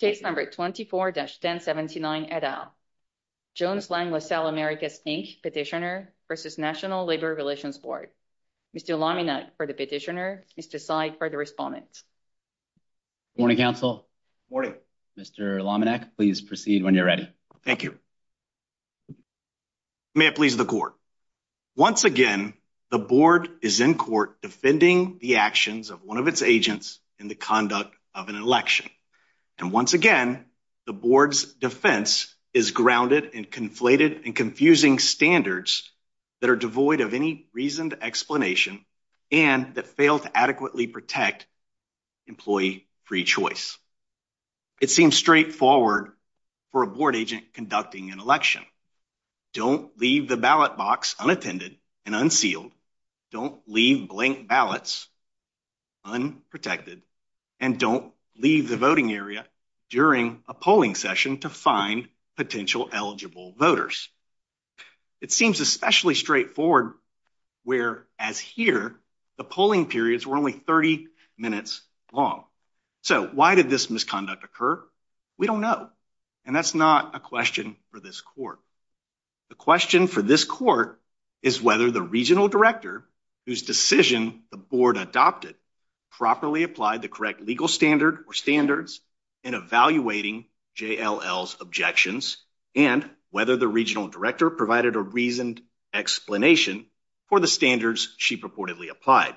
Case number 24-1079, et al. Jones Lang LaSalle Americas, Inc petitioner versus National Labor Relations Board. Mr. Lominec for the petitioner, Mr. Seid for the respondent. Morning, counsel. Morning. Mr. Lominec, please proceed when you're ready. Thank you. May it please the court. Once again, the board is in court defending the actions of one of its agents in the conduct of an election. And once again, the board's defense is grounded and conflated and confusing standards that are devoid of any reasoned explanation and that fail to adequately protect employee free choice. It seems straightforward for a board agent conducting an election. Don't leave the ballot box unattended and unsealed. Don't leave blank ballots unprotected and don't leave the voting area during a polling session to find potential eligible voters. It seems especially straightforward where as here, the polling periods were only 30 minutes long. So why did this misconduct occur? We don't know. And that's not a question for this court. The question for this court is whether the regional director whose decision the board adopted properly applied the correct legal standard or standards in evaluating JLL's objections and whether the regional director provided a reasoned explanation for the standards she purportedly applied.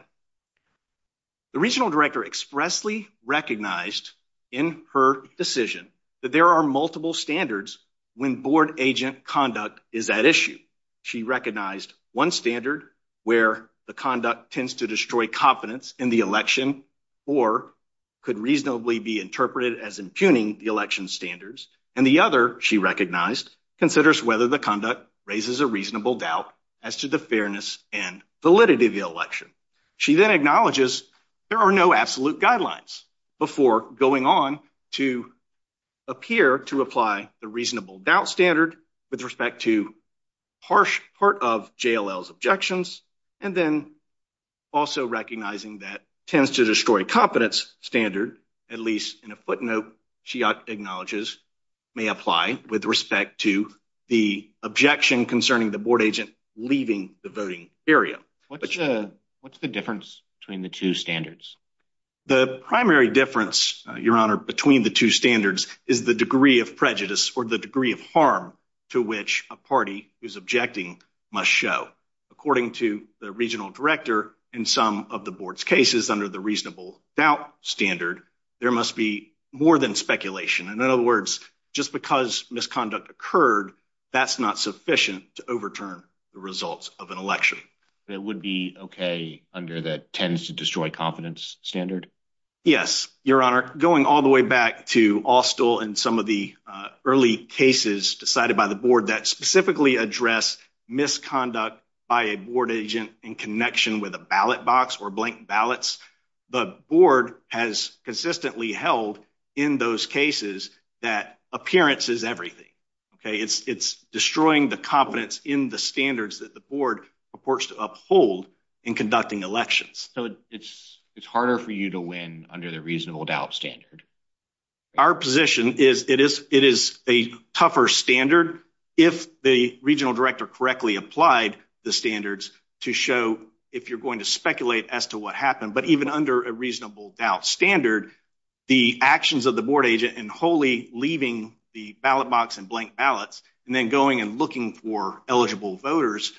The regional director expressly recognized in her decision that there are multiple standards when board agent conduct is at issue. She recognized one standard where the conduct tends to destroy confidence in the election or could reasonably be interpreted as impugning the election standards. And the other she recognized considers whether the conduct raises a reasonable doubt as to the fairness and validity of the election. She then acknowledges there are no absolute guidelines before going on to appear to apply the reasonable doubt standard with respect to harsh part of JLL's objections. And then also recognizing that tends to destroy competence standard, at least in a footnote she acknowledges, may apply with respect to the objection concerning the board agent leaving the voting area. What's the difference between the two standards? The primary difference, Your Honor, between the two standards is the degree of prejudice or the degree of harm to which a party who's objecting must show. According to the regional director in some of the board's cases under the reasonable doubt standard, there must be more than speculation. And in other words, just because misconduct occurred, that's not sufficient to overturn the results of an election. That would be okay under that tends to destroy confidence standard? Yes, Your Honor. Going all the way back to Austell and some of the early cases decided by the board that specifically address misconduct by a board agent in connection with a ballot box or blank ballots, the board has consistently held in those cases that appearance is everything, okay? It's destroying the competence in the standards that the board purports to uphold in conducting elections. So it's harder for you to win under the reasonable doubt standard? Our position is it is a tougher standard if the regional director correctly applied the standards to show if you're going to speculate as to what happened, but even under a reasonable doubt standard, the actions of the board agent and wholly leaving the ballot box and blank ballots and then going and looking for eligible voters,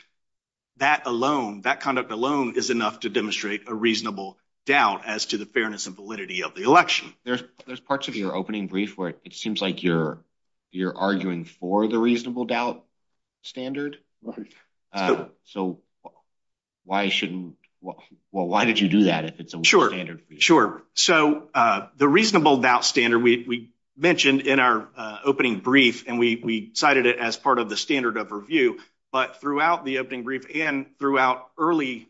that alone, that conduct alone is enough to demonstrate a reasonable doubt as to the fairness and validity of the election. There's parts of your opening brief where it seems like you're arguing for the reasonable doubt standard. So why shouldn't, well, why did you do that if it's a standard? Sure, so the reasonable doubt standard, we mentioned in our opening brief and we cited it as part of the standard of review, but throughout the opening brief and throughout early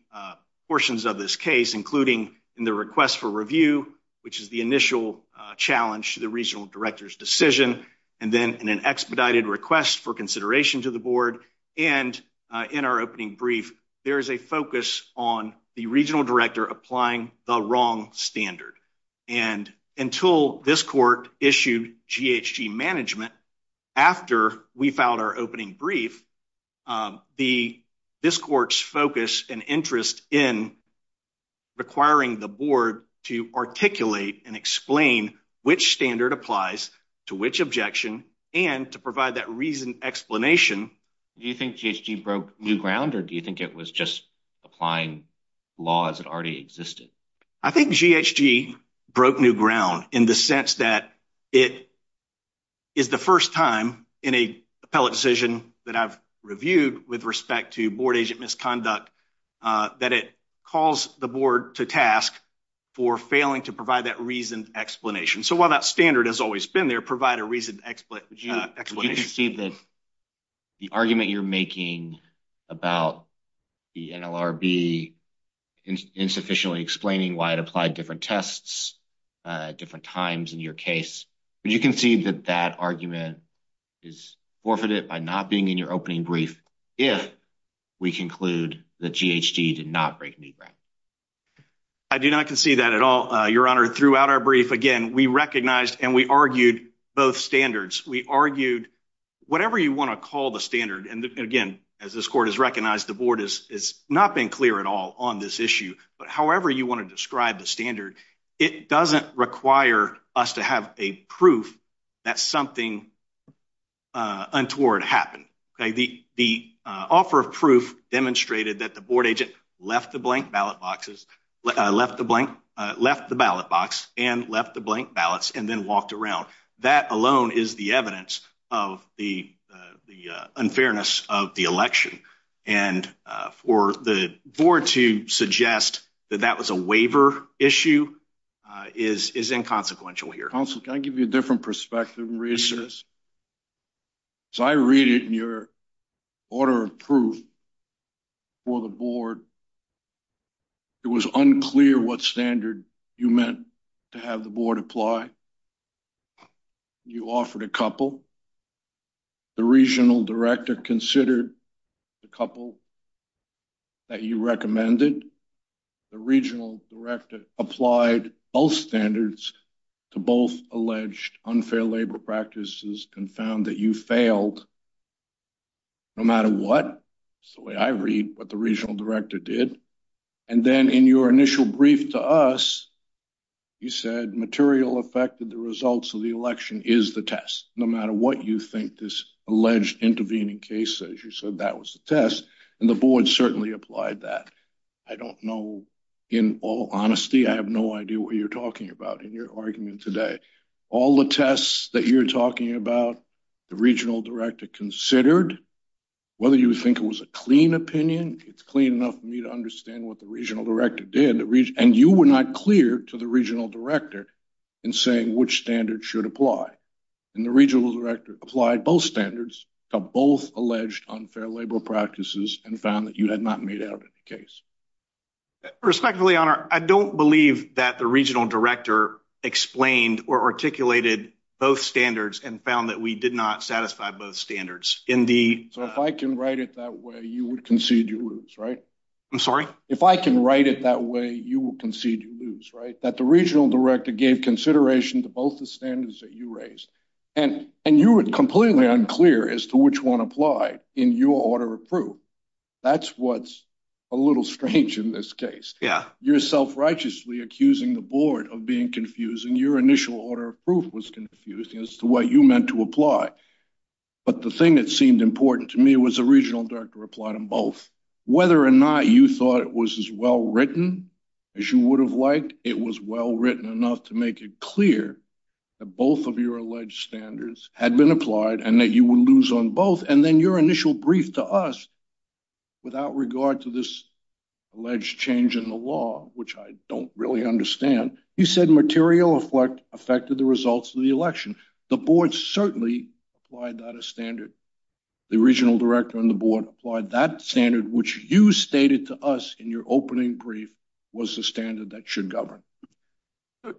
portions of this case, including in the request for review, which is the initial challenge to the regional director's decision, and then in an expedited request for consideration to the board, and in our opening brief, there is a focus on the regional director applying the wrong standard. And until this court issued GHG management after we filed our opening brief, this court's focus and interest in requiring the board to articulate and explain which standard applies to which objection and to provide that reasoned explanation. Do you think GHG broke new ground or do you think it was just applying laws that already existed? I think GHG broke new ground in the sense that it is the first time in a appellate decision that I've reviewed with respect to board agent misconduct that it calls the board to task for failing to provide that reasoned explanation. So while that standard has always been there, provide a reasoned explanation. Would you concede that the argument you're making about the NLRB insufficiently explaining why it applied different tests at different times in your case, would you concede that that argument is forfeited by not being in your opening brief if we conclude that GHG did not break new ground? I do not concede that at all, Your Honor. Throughout our brief, again, we recognized and we argued both standards. We argued whatever you want to call the standard. And again, as this court has recognized, the board has not been clear at all on this issue. But however you want to describe the standard, it doesn't require us to have a proof that something untoward happened. The offer of proof demonstrated that the board agent left the blank ballot boxes, left the blank, left the ballot box and left the blank ballots and then walked around. That alone is the evidence of the unfairness of the election. And for the board to suggest that that was a waiver issue is inconsequential here. Counsel, can I give you a different perspective and reassurance? As I read it in your order of proof for the board, it was unclear what standard you meant to have the board apply. You offered a couple. The regional director considered the couple that you recommended. The regional director applied both standards to both alleged unfair labor practices and found that you failed no matter what. So the way I read what the regional director did. And then in your initial brief to us, you said material affected the results of the election is the test, no matter what you think this alleged intervening case says. You said that was the test and the board certainly applied that. I don't know, in all honesty, I have no idea what you're talking about. In your argument today, all the tests that you're talking about, the regional director considered, whether you think it was a clean opinion, it's clean enough for me to understand what the regional director did. And you were not clear to the regional director in saying which standard should apply. And the regional director applied both standards to both alleged unfair labor practices and found that you had not made out any case. Respectfully, your honor, I don't believe that the regional director explained or articulated both standards and found that we did not satisfy both standards in the- So if I can write it that way, you would concede you lose, right? I'm sorry? If I can write it that way, you will concede you lose, right? That the regional director gave consideration to both the standards that you raised. And you were completely unclear as to which one applied in your order of proof. That's what's a little strange in this case. You're self-righteously accusing the board of being confused and your initial order of proof was confused as to what you meant to apply. But the thing that seemed important to me was the regional director replied on both. Whether or not you thought it was as well-written as you would have liked, it was well-written enough to make it clear that both of your alleged standards had been applied and that you would lose on both. And then your initial brief to us without regard to this alleged change in the law, which I don't really understand, you said material affected the results of the election. The board certainly applied that as standard. The regional director and the board applied that standard, which you stated to us in your opening brief was the standard that should govern.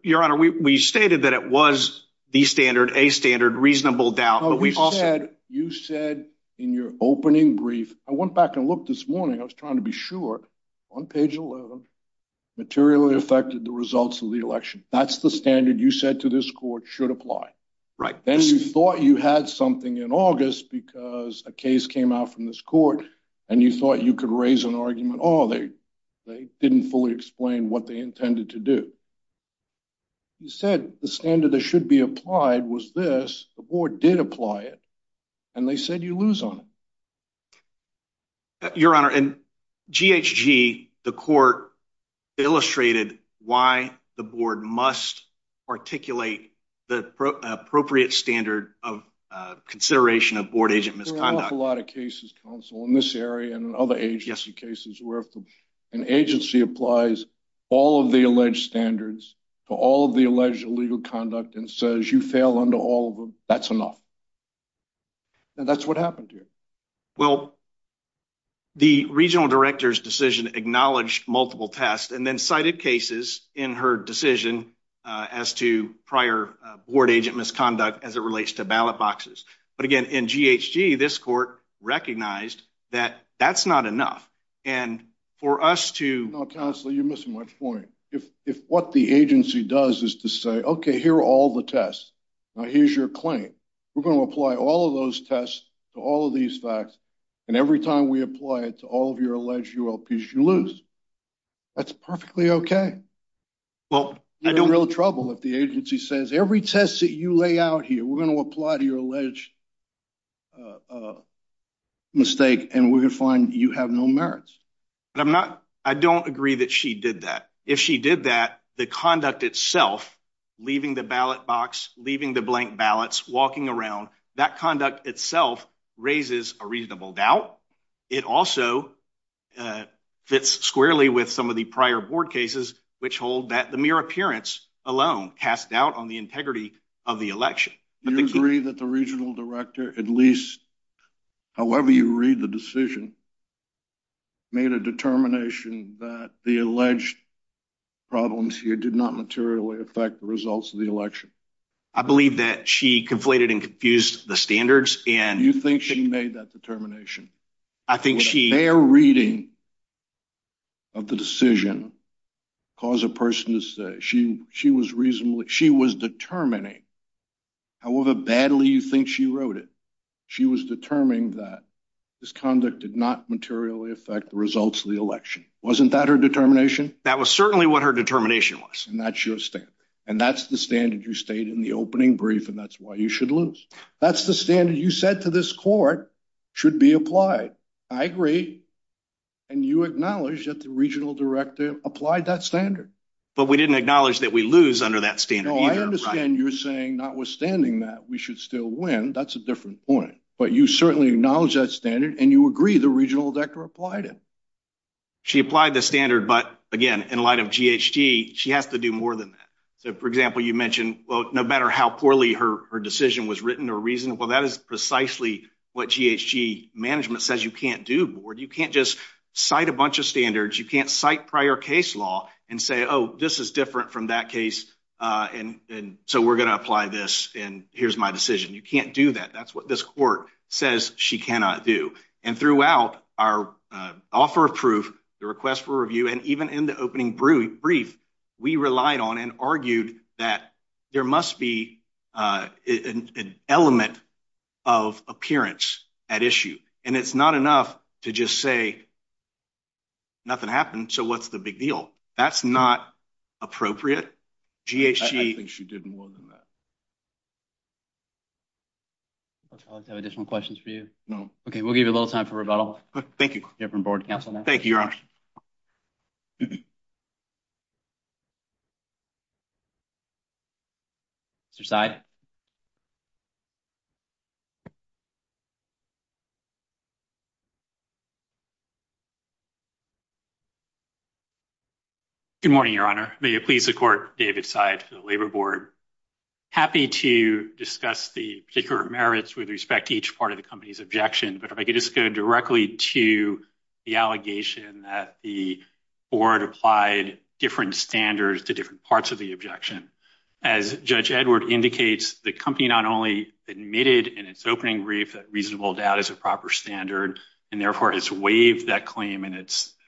Your Honor, we stated that it was the standard, a standard, reasonable doubt, but we also- You said in your opening brief, I went back and looked this morning, I was trying to be sure, on page 11, materially affected the results of the election. That's the standard you said to this court should apply. Right. Then you thought you had something in August because a case came out from this court and you thought you could raise an argument, oh, they didn't fully explain what they intended to do. You said the standard that should be applied was this, the board did apply it, and they said you lose on it. Your Honor, in GHG, the court illustrated why the board must articulate the appropriate standard of consideration of board agent misconduct. There are an awful lot of cases, counsel, in this area and in other agency cases where if an agency applies all of the alleged standards to all of the alleged illegal conduct and says you fail under all of them, that's enough. And that's what happened here. Well, the regional director's decision acknowledged multiple tests and then cited cases in her decision as to prior board agent misconduct as it relates to ballot boxes. But again, in GHG, this court recognized that that's not enough, and for us to- No, counsel, you're missing my point. If what the agency does is to say, okay, here are all the tests, now here's your claim. We're gonna apply all of those tests to all of these facts, and every time we apply it to all of your alleged ULPs, you lose. That's perfectly okay. Well, I don't- You're in real trouble if the agency says every test that you lay out here, we're gonna apply to your alleged mistake, and we're gonna find you have no merits. But I'm not, I don't agree that she did that. If she did that, the conduct itself, leaving the ballot box, leaving the blank ballots, walking around, that conduct itself raises a reasonable doubt. It also fits squarely with some of the prior board cases, which hold that the mere appearance alone cast doubt on the integrity of the election. Do you agree that the regional director, at least however you read the decision, made a determination that the alleged problems here did not materially affect the results of the election? I believe that she conflated and confused the standards, and- You think she made that determination? I think she- With a fair reading of the decision, cause a person to say, she was determining, however badly you think she wrote it, she was determining that this conduct did not materially affect the results of the election. Wasn't that her determination? That was certainly what her determination was. And that's your standard. You stayed in the opening brief, and that's why you should lose. That's the standard you said to this court should be applied. I agree. And you acknowledge that the regional director applied that standard. But we didn't acknowledge that we lose under that standard either, right? No, I understand you're saying, notwithstanding that, we should still win. That's a different point. But you certainly acknowledge that standard, and you agree the regional director applied it. She applied the standard, but again, in light of GHG, she has to do more than that. So for example, you mentioned, well, no matter how poorly her decision was written or reasoned, well, that is precisely what GHG management says you can't do, board. You can't just cite a bunch of standards. You can't cite prior case law and say, oh, this is different from that case, and so we're gonna apply this, and here's my decision. You can't do that. That's what this court says she cannot do. And throughout our offer of proof, the request for review, and even in the opening brief, we relied on and argued that there must be an element of appearance at issue, and it's not enough to just say, nothing happened, so what's the big deal? That's not appropriate. GHG. I think she did more than that. I'll try not to have additional questions for you. No. Okay, we'll give you a little time for rebuttal. Thank you. You're from board counsel now. Thank you, Your Honor. Mr. Seid. Good morning, Your Honor. May it please the court, David Seid for the Labor Board. Happy to discuss the particular merits with respect to each part of the company's objection, but if I could just go directly to the allegation that the board applied different standards to different parts of the objection. As Judge Edward indicates, the company not only admitted in its opening brief that reasonable doubt is a proper standard, and therefore has waived that claim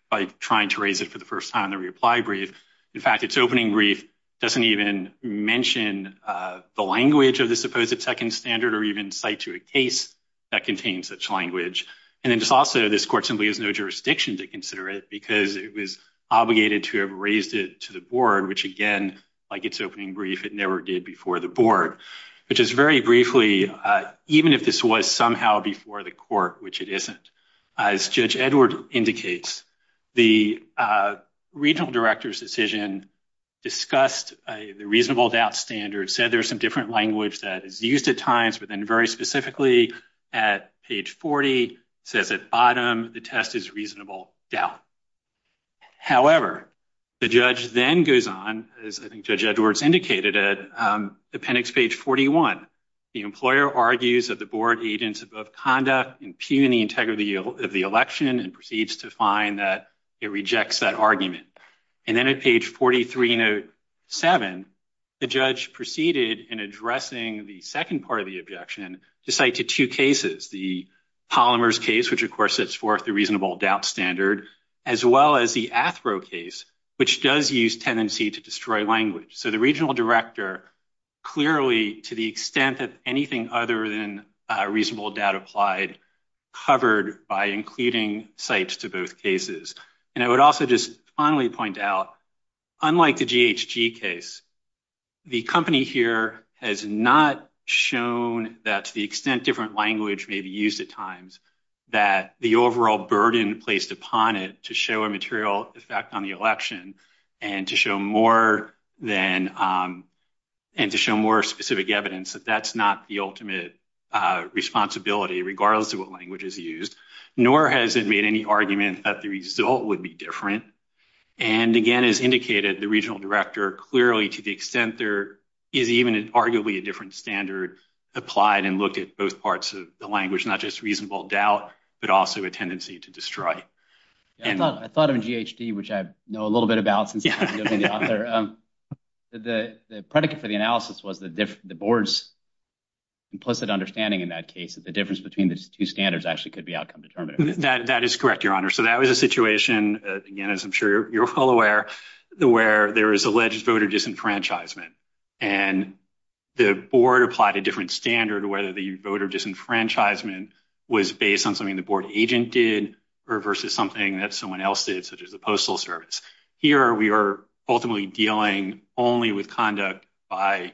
by trying to raise it for the first time in the reapply brief. In fact, its opening brief doesn't even mention the language of the supposed second standard, or even cite to a case that contains such language. And then just also, this court simply has no jurisdiction to consider it because it was obligated to have raised it to the board, which again, like its opening brief, it never did before the board. But just very briefly, even if this was somehow before the court, which it isn't, as Judge Edward indicates, the regional director's decision discussed the reasonable doubt standard, said there's some different language that is used at times, but then very specifically at page 40, says at bottom, the test is reasonable doubt. However, the judge then goes on, as I think Judge Edward's indicated, at appendix page 41, the employer argues that the board agents above conduct impugn the integrity of the election and proceeds to find that it rejects that argument. And then at page 43, note seven, the judge proceeded in addressing the second part of the objection to cite to two cases, the Polymers case, which of course sets forth the reasonable doubt standard, as well as the Athro case, which does use tenancy to destroy language. So the regional director clearly, to the extent that anything other than reasonable doubt applied, covered by including cites to both cases. And I would also just finally point out, unlike the GHG case, the company here has not shown that to the extent different language may be used at times, that the overall burden placed upon it to show a material effect on the election and to show more specific evidence, that that's not the ultimate responsibility, regardless of what language is used, nor has it made any argument that the result would be different. And again, as indicated, the regional director clearly, to the extent there is even an arguably a different standard applied and looked at both parts of the language, not just reasonable doubt, but also a tendency to destroy. And I thought of a GHG, which I know a little bit about since I'm the author. The predicate for the analysis was the different, the board's implicit understanding in that case, that the difference between the two standards actually could be outcome determinative. That is correct, your honor. So that was a situation again, as I'm sure you're all aware, the where there is alleged voter disenfranchisement and the board applied a different standard, whether the voter disenfranchisement was based on something the board agent did or versus something that someone else did, such as the postal service. Here, we are ultimately dealing only with conduct by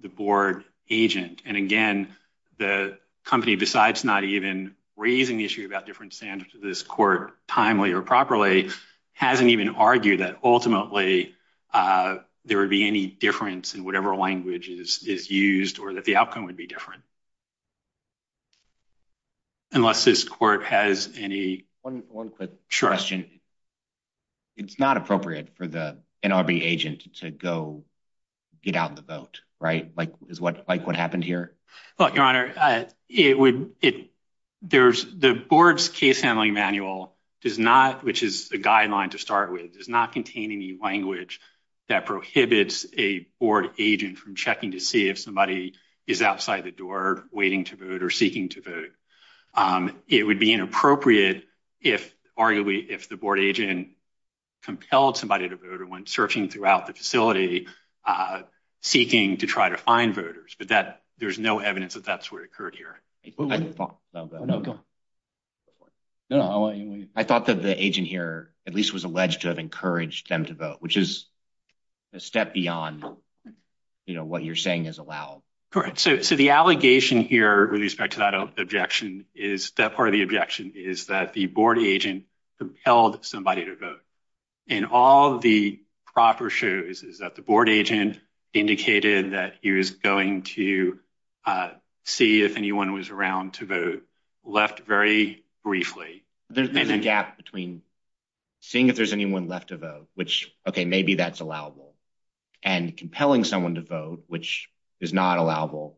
the board agent. And again, the company, besides not even raising the issue about different standards to this court timely or properly, hasn't even argued that ultimately there would be any difference in whatever language is used or that the outcome would be different. Unless this court has any... One quick question. It's not appropriate for the NRB agent to go get out the vote, right? Like what happened here? Look, your honor, the board's case handling manual does not, which is a guideline to start with, does not contain any language that prohibits a board agent from checking to see if somebody is outside the door waiting to vote or seeking to vote. It would be inappropriate, if arguably if the board agent compelled somebody to vote or when searching throughout the facility, seeking to try to find voters, but there's no evidence that that's what occurred here. I thought that the agent here, at least was alleged to have encouraged them to vote, which is a step beyond what you're saying is allowed. Correct. So the allegation here with respect to that objection is that part of the objection is that the board agent compelled somebody to vote. And all the proper shows is that the board agent indicated that he was going to see if anyone was around to vote, left very briefly. There's a gap between seeing if there's anyone left to vote, which, okay, maybe that's allowable, and compelling someone to vote, which is not allowable.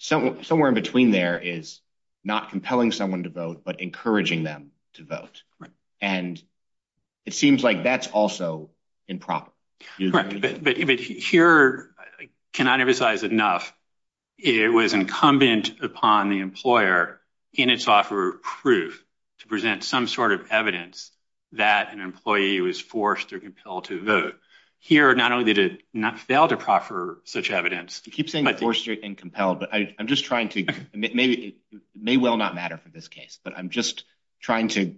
Somewhere in between there is not compelling someone to vote, but encouraging them to vote. And it seems like that's also improper. Correct, but here, I cannot emphasize enough, it was incumbent upon the employer in its offer of proof to present some sort of evidence that an employee was forced or compelled to vote. Here, not only did it not fail to proffer such evidence- You keep saying forced and compelled, but I'm just trying to, it may well not matter for this case, but I'm just trying to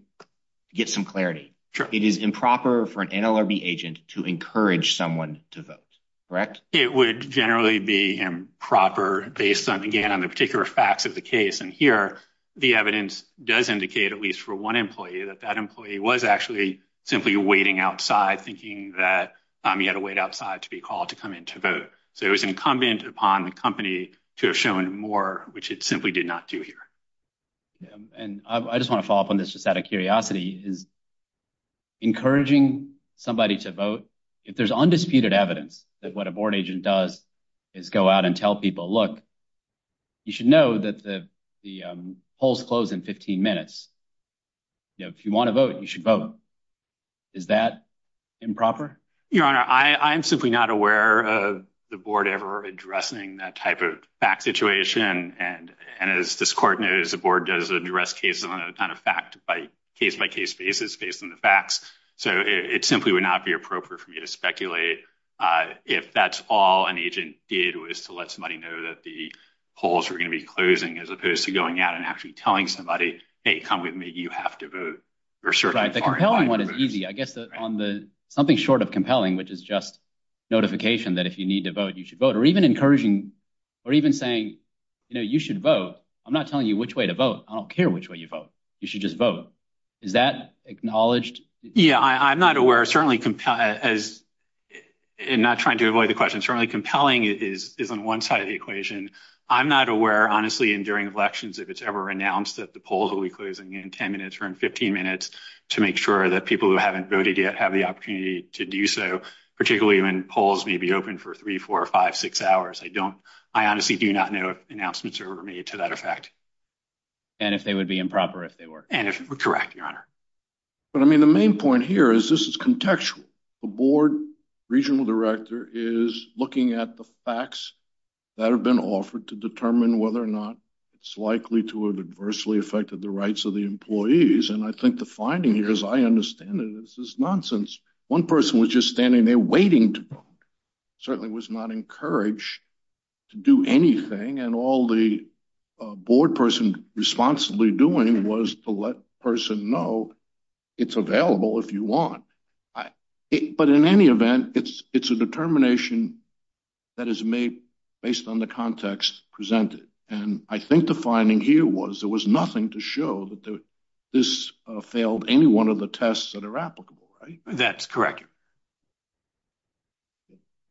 get some clarity. It is improper for an NLRB agent to encourage someone to vote, correct? It would generally be improper based on, again, on the particular facts of the case. And here, the evidence does indicate, at least for one employee, that that employee was actually simply waiting outside, thinking that he had to wait outside to be called to come in to vote. So it was incumbent upon the company to have shown more, which it simply did not do here. And I just want to follow up on this just out of curiosity, is encouraging somebody to vote, if there's undisputed evidence that what a board agent does is go out and tell people, look, you should know that the polls close in 15 minutes. You know, if you want to vote, you should vote. Is that improper? Your Honor, I'm simply not aware of the board ever addressing that type of fact situation. And as this court knows, the board does address cases on a kind of fact by case-by-case basis based on the facts. So it simply would not be appropriate for me to speculate if that's all an agent did was to let somebody know that the polls were going to be closing, as opposed to going out and actually telling somebody, hey, come with me, you have to vote, or certain foreign voters. Right, the compelling one is easy. I guess on the, something short of compelling, which is just notification that if you need to vote, you should vote, or even encouraging, or even saying, you know, you should vote. I'm not telling you which way to vote. I don't care which way you vote. You should just vote. Is that acknowledged? Yeah, I'm not aware. Certainly, as, and not trying to avoid the question, certainly compelling is on one side of the equation. I'm not aware, honestly, in during elections, if it's ever announced that the polls will be closing in 10 minutes or in 15 minutes to make sure that people who haven't voted yet have the opportunity to do so, particularly when polls may be open for three, four, five, six hours. I don't, I honestly do not know if announcements are ever made to that effect. And if they would be improper, if they were. And if, correct, Your Honor. But I mean, the main point here is this is contextual. The board regional director is looking at the facts that have been offered to determine whether or not it's likely to have adversely affected the rights of the employees. And I think the finding here, as I understand it, is this is nonsense. One person was just standing there waiting to vote, certainly was not encouraged to do anything. And all the board person responsibly doing was to let the person know it's available if you want. But in any event, it's a determination that is made based on the context presented. And I think the finding here was, there was nothing to show that this failed any one of the tests that are applicable, right? That's correct.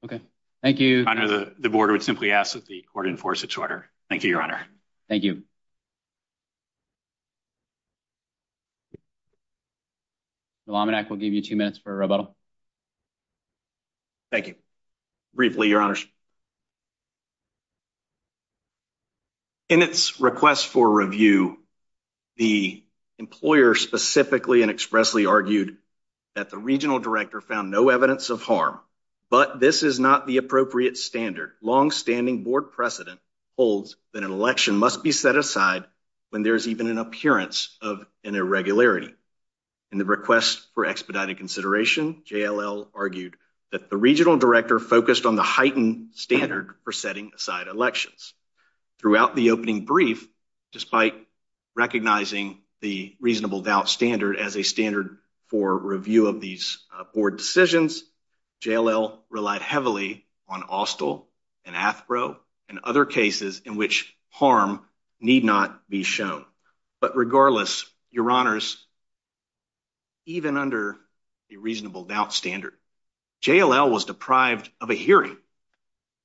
Okay, thank you. Your Honor, the board would simply ask that the court enforce its order. Thank you, Your Honor. Thank you. Melomenak, we'll give you two minutes for a rebuttal. Thank you. Briefly, Your Honor. In its request for review, the employer specifically and expressly argued that the regional director found no evidence of harm, but this is not the appropriate standard. Longstanding board precedent holds that an election must be set aside when there's even an appearance of an irregularity. In the request for expedited consideration, JLL argued that the regional director focused on the heightened standard for setting aside elections. Throughout the opening brief, despite recognizing the reasonable doubt standard as a standard for review of these board decisions, JLL relied heavily on Austell and Athbro and other cases in which harm need not be shown. But regardless, Your Honors, even under a reasonable doubt standard, JLL was deprived of a hearing,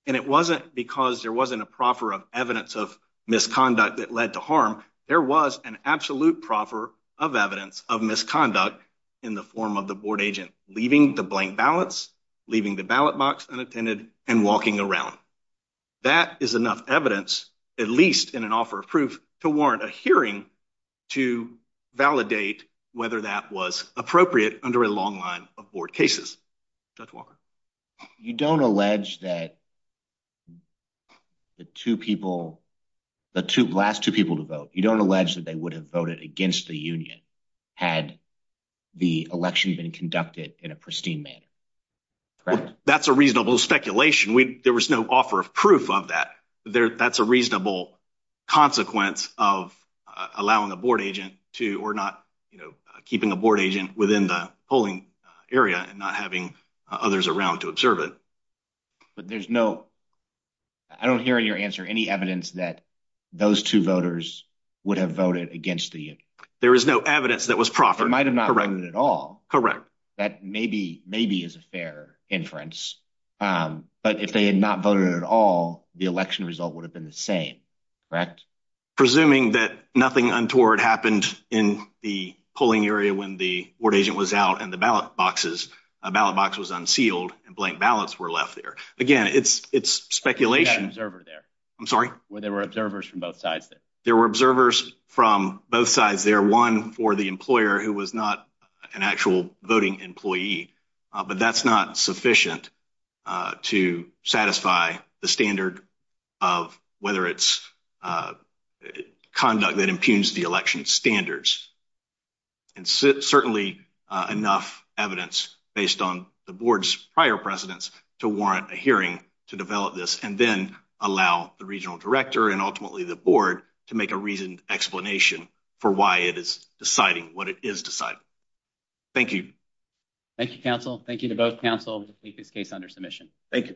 and it wasn't because there wasn't a proffer of evidence of misconduct that led to harm. There was an absolute proffer of evidence of misconduct in the form of the board agent leaving the blank ballots, leaving the ballot box unattended, and walking around. That is enough evidence, at least in an offer of proof, to warrant a hearing to validate whether that was appropriate under a long line of board cases. Judge Walker. You don't allege that the two people, the last two people to vote, you don't allege that they would have voted against the union had the election been conducted in a pristine manner, correct? That's a reasonable speculation. There was no offer of proof of that. That's a reasonable consequence of allowing a board agent to, or not keeping a board agent within the polling area and not having others around to observe it. But there's no, I don't hear in your answer, any evidence that those two voters would have voted against the union. There is no evidence that was proffered. They might have not voted at all. Correct. That maybe is a fair inference. But if they had not voted at all, the election result would have been the same, correct? Presuming that nothing untoward happened in the polling area when the board agent was out and the ballot boxes, a ballot box was unsealed and blank ballots were left there. Again, it's speculation. Where was that observer there? I'm sorry? Where there were observers from both sides there. There were observers from both sides there. One for the employer who was not an actual voting employee, but that's not sufficient to satisfy the standard of whether it's conduct that impugns the election standards. And certainly enough evidence based on the board's prior precedents to warrant a hearing to develop this and then allow the regional director and ultimately the board to make a reasoned explanation for why it is deciding what it is deciding. Thank you. Thank you, counsel. Thank you to both counsel to keep this case under submission. Thank you.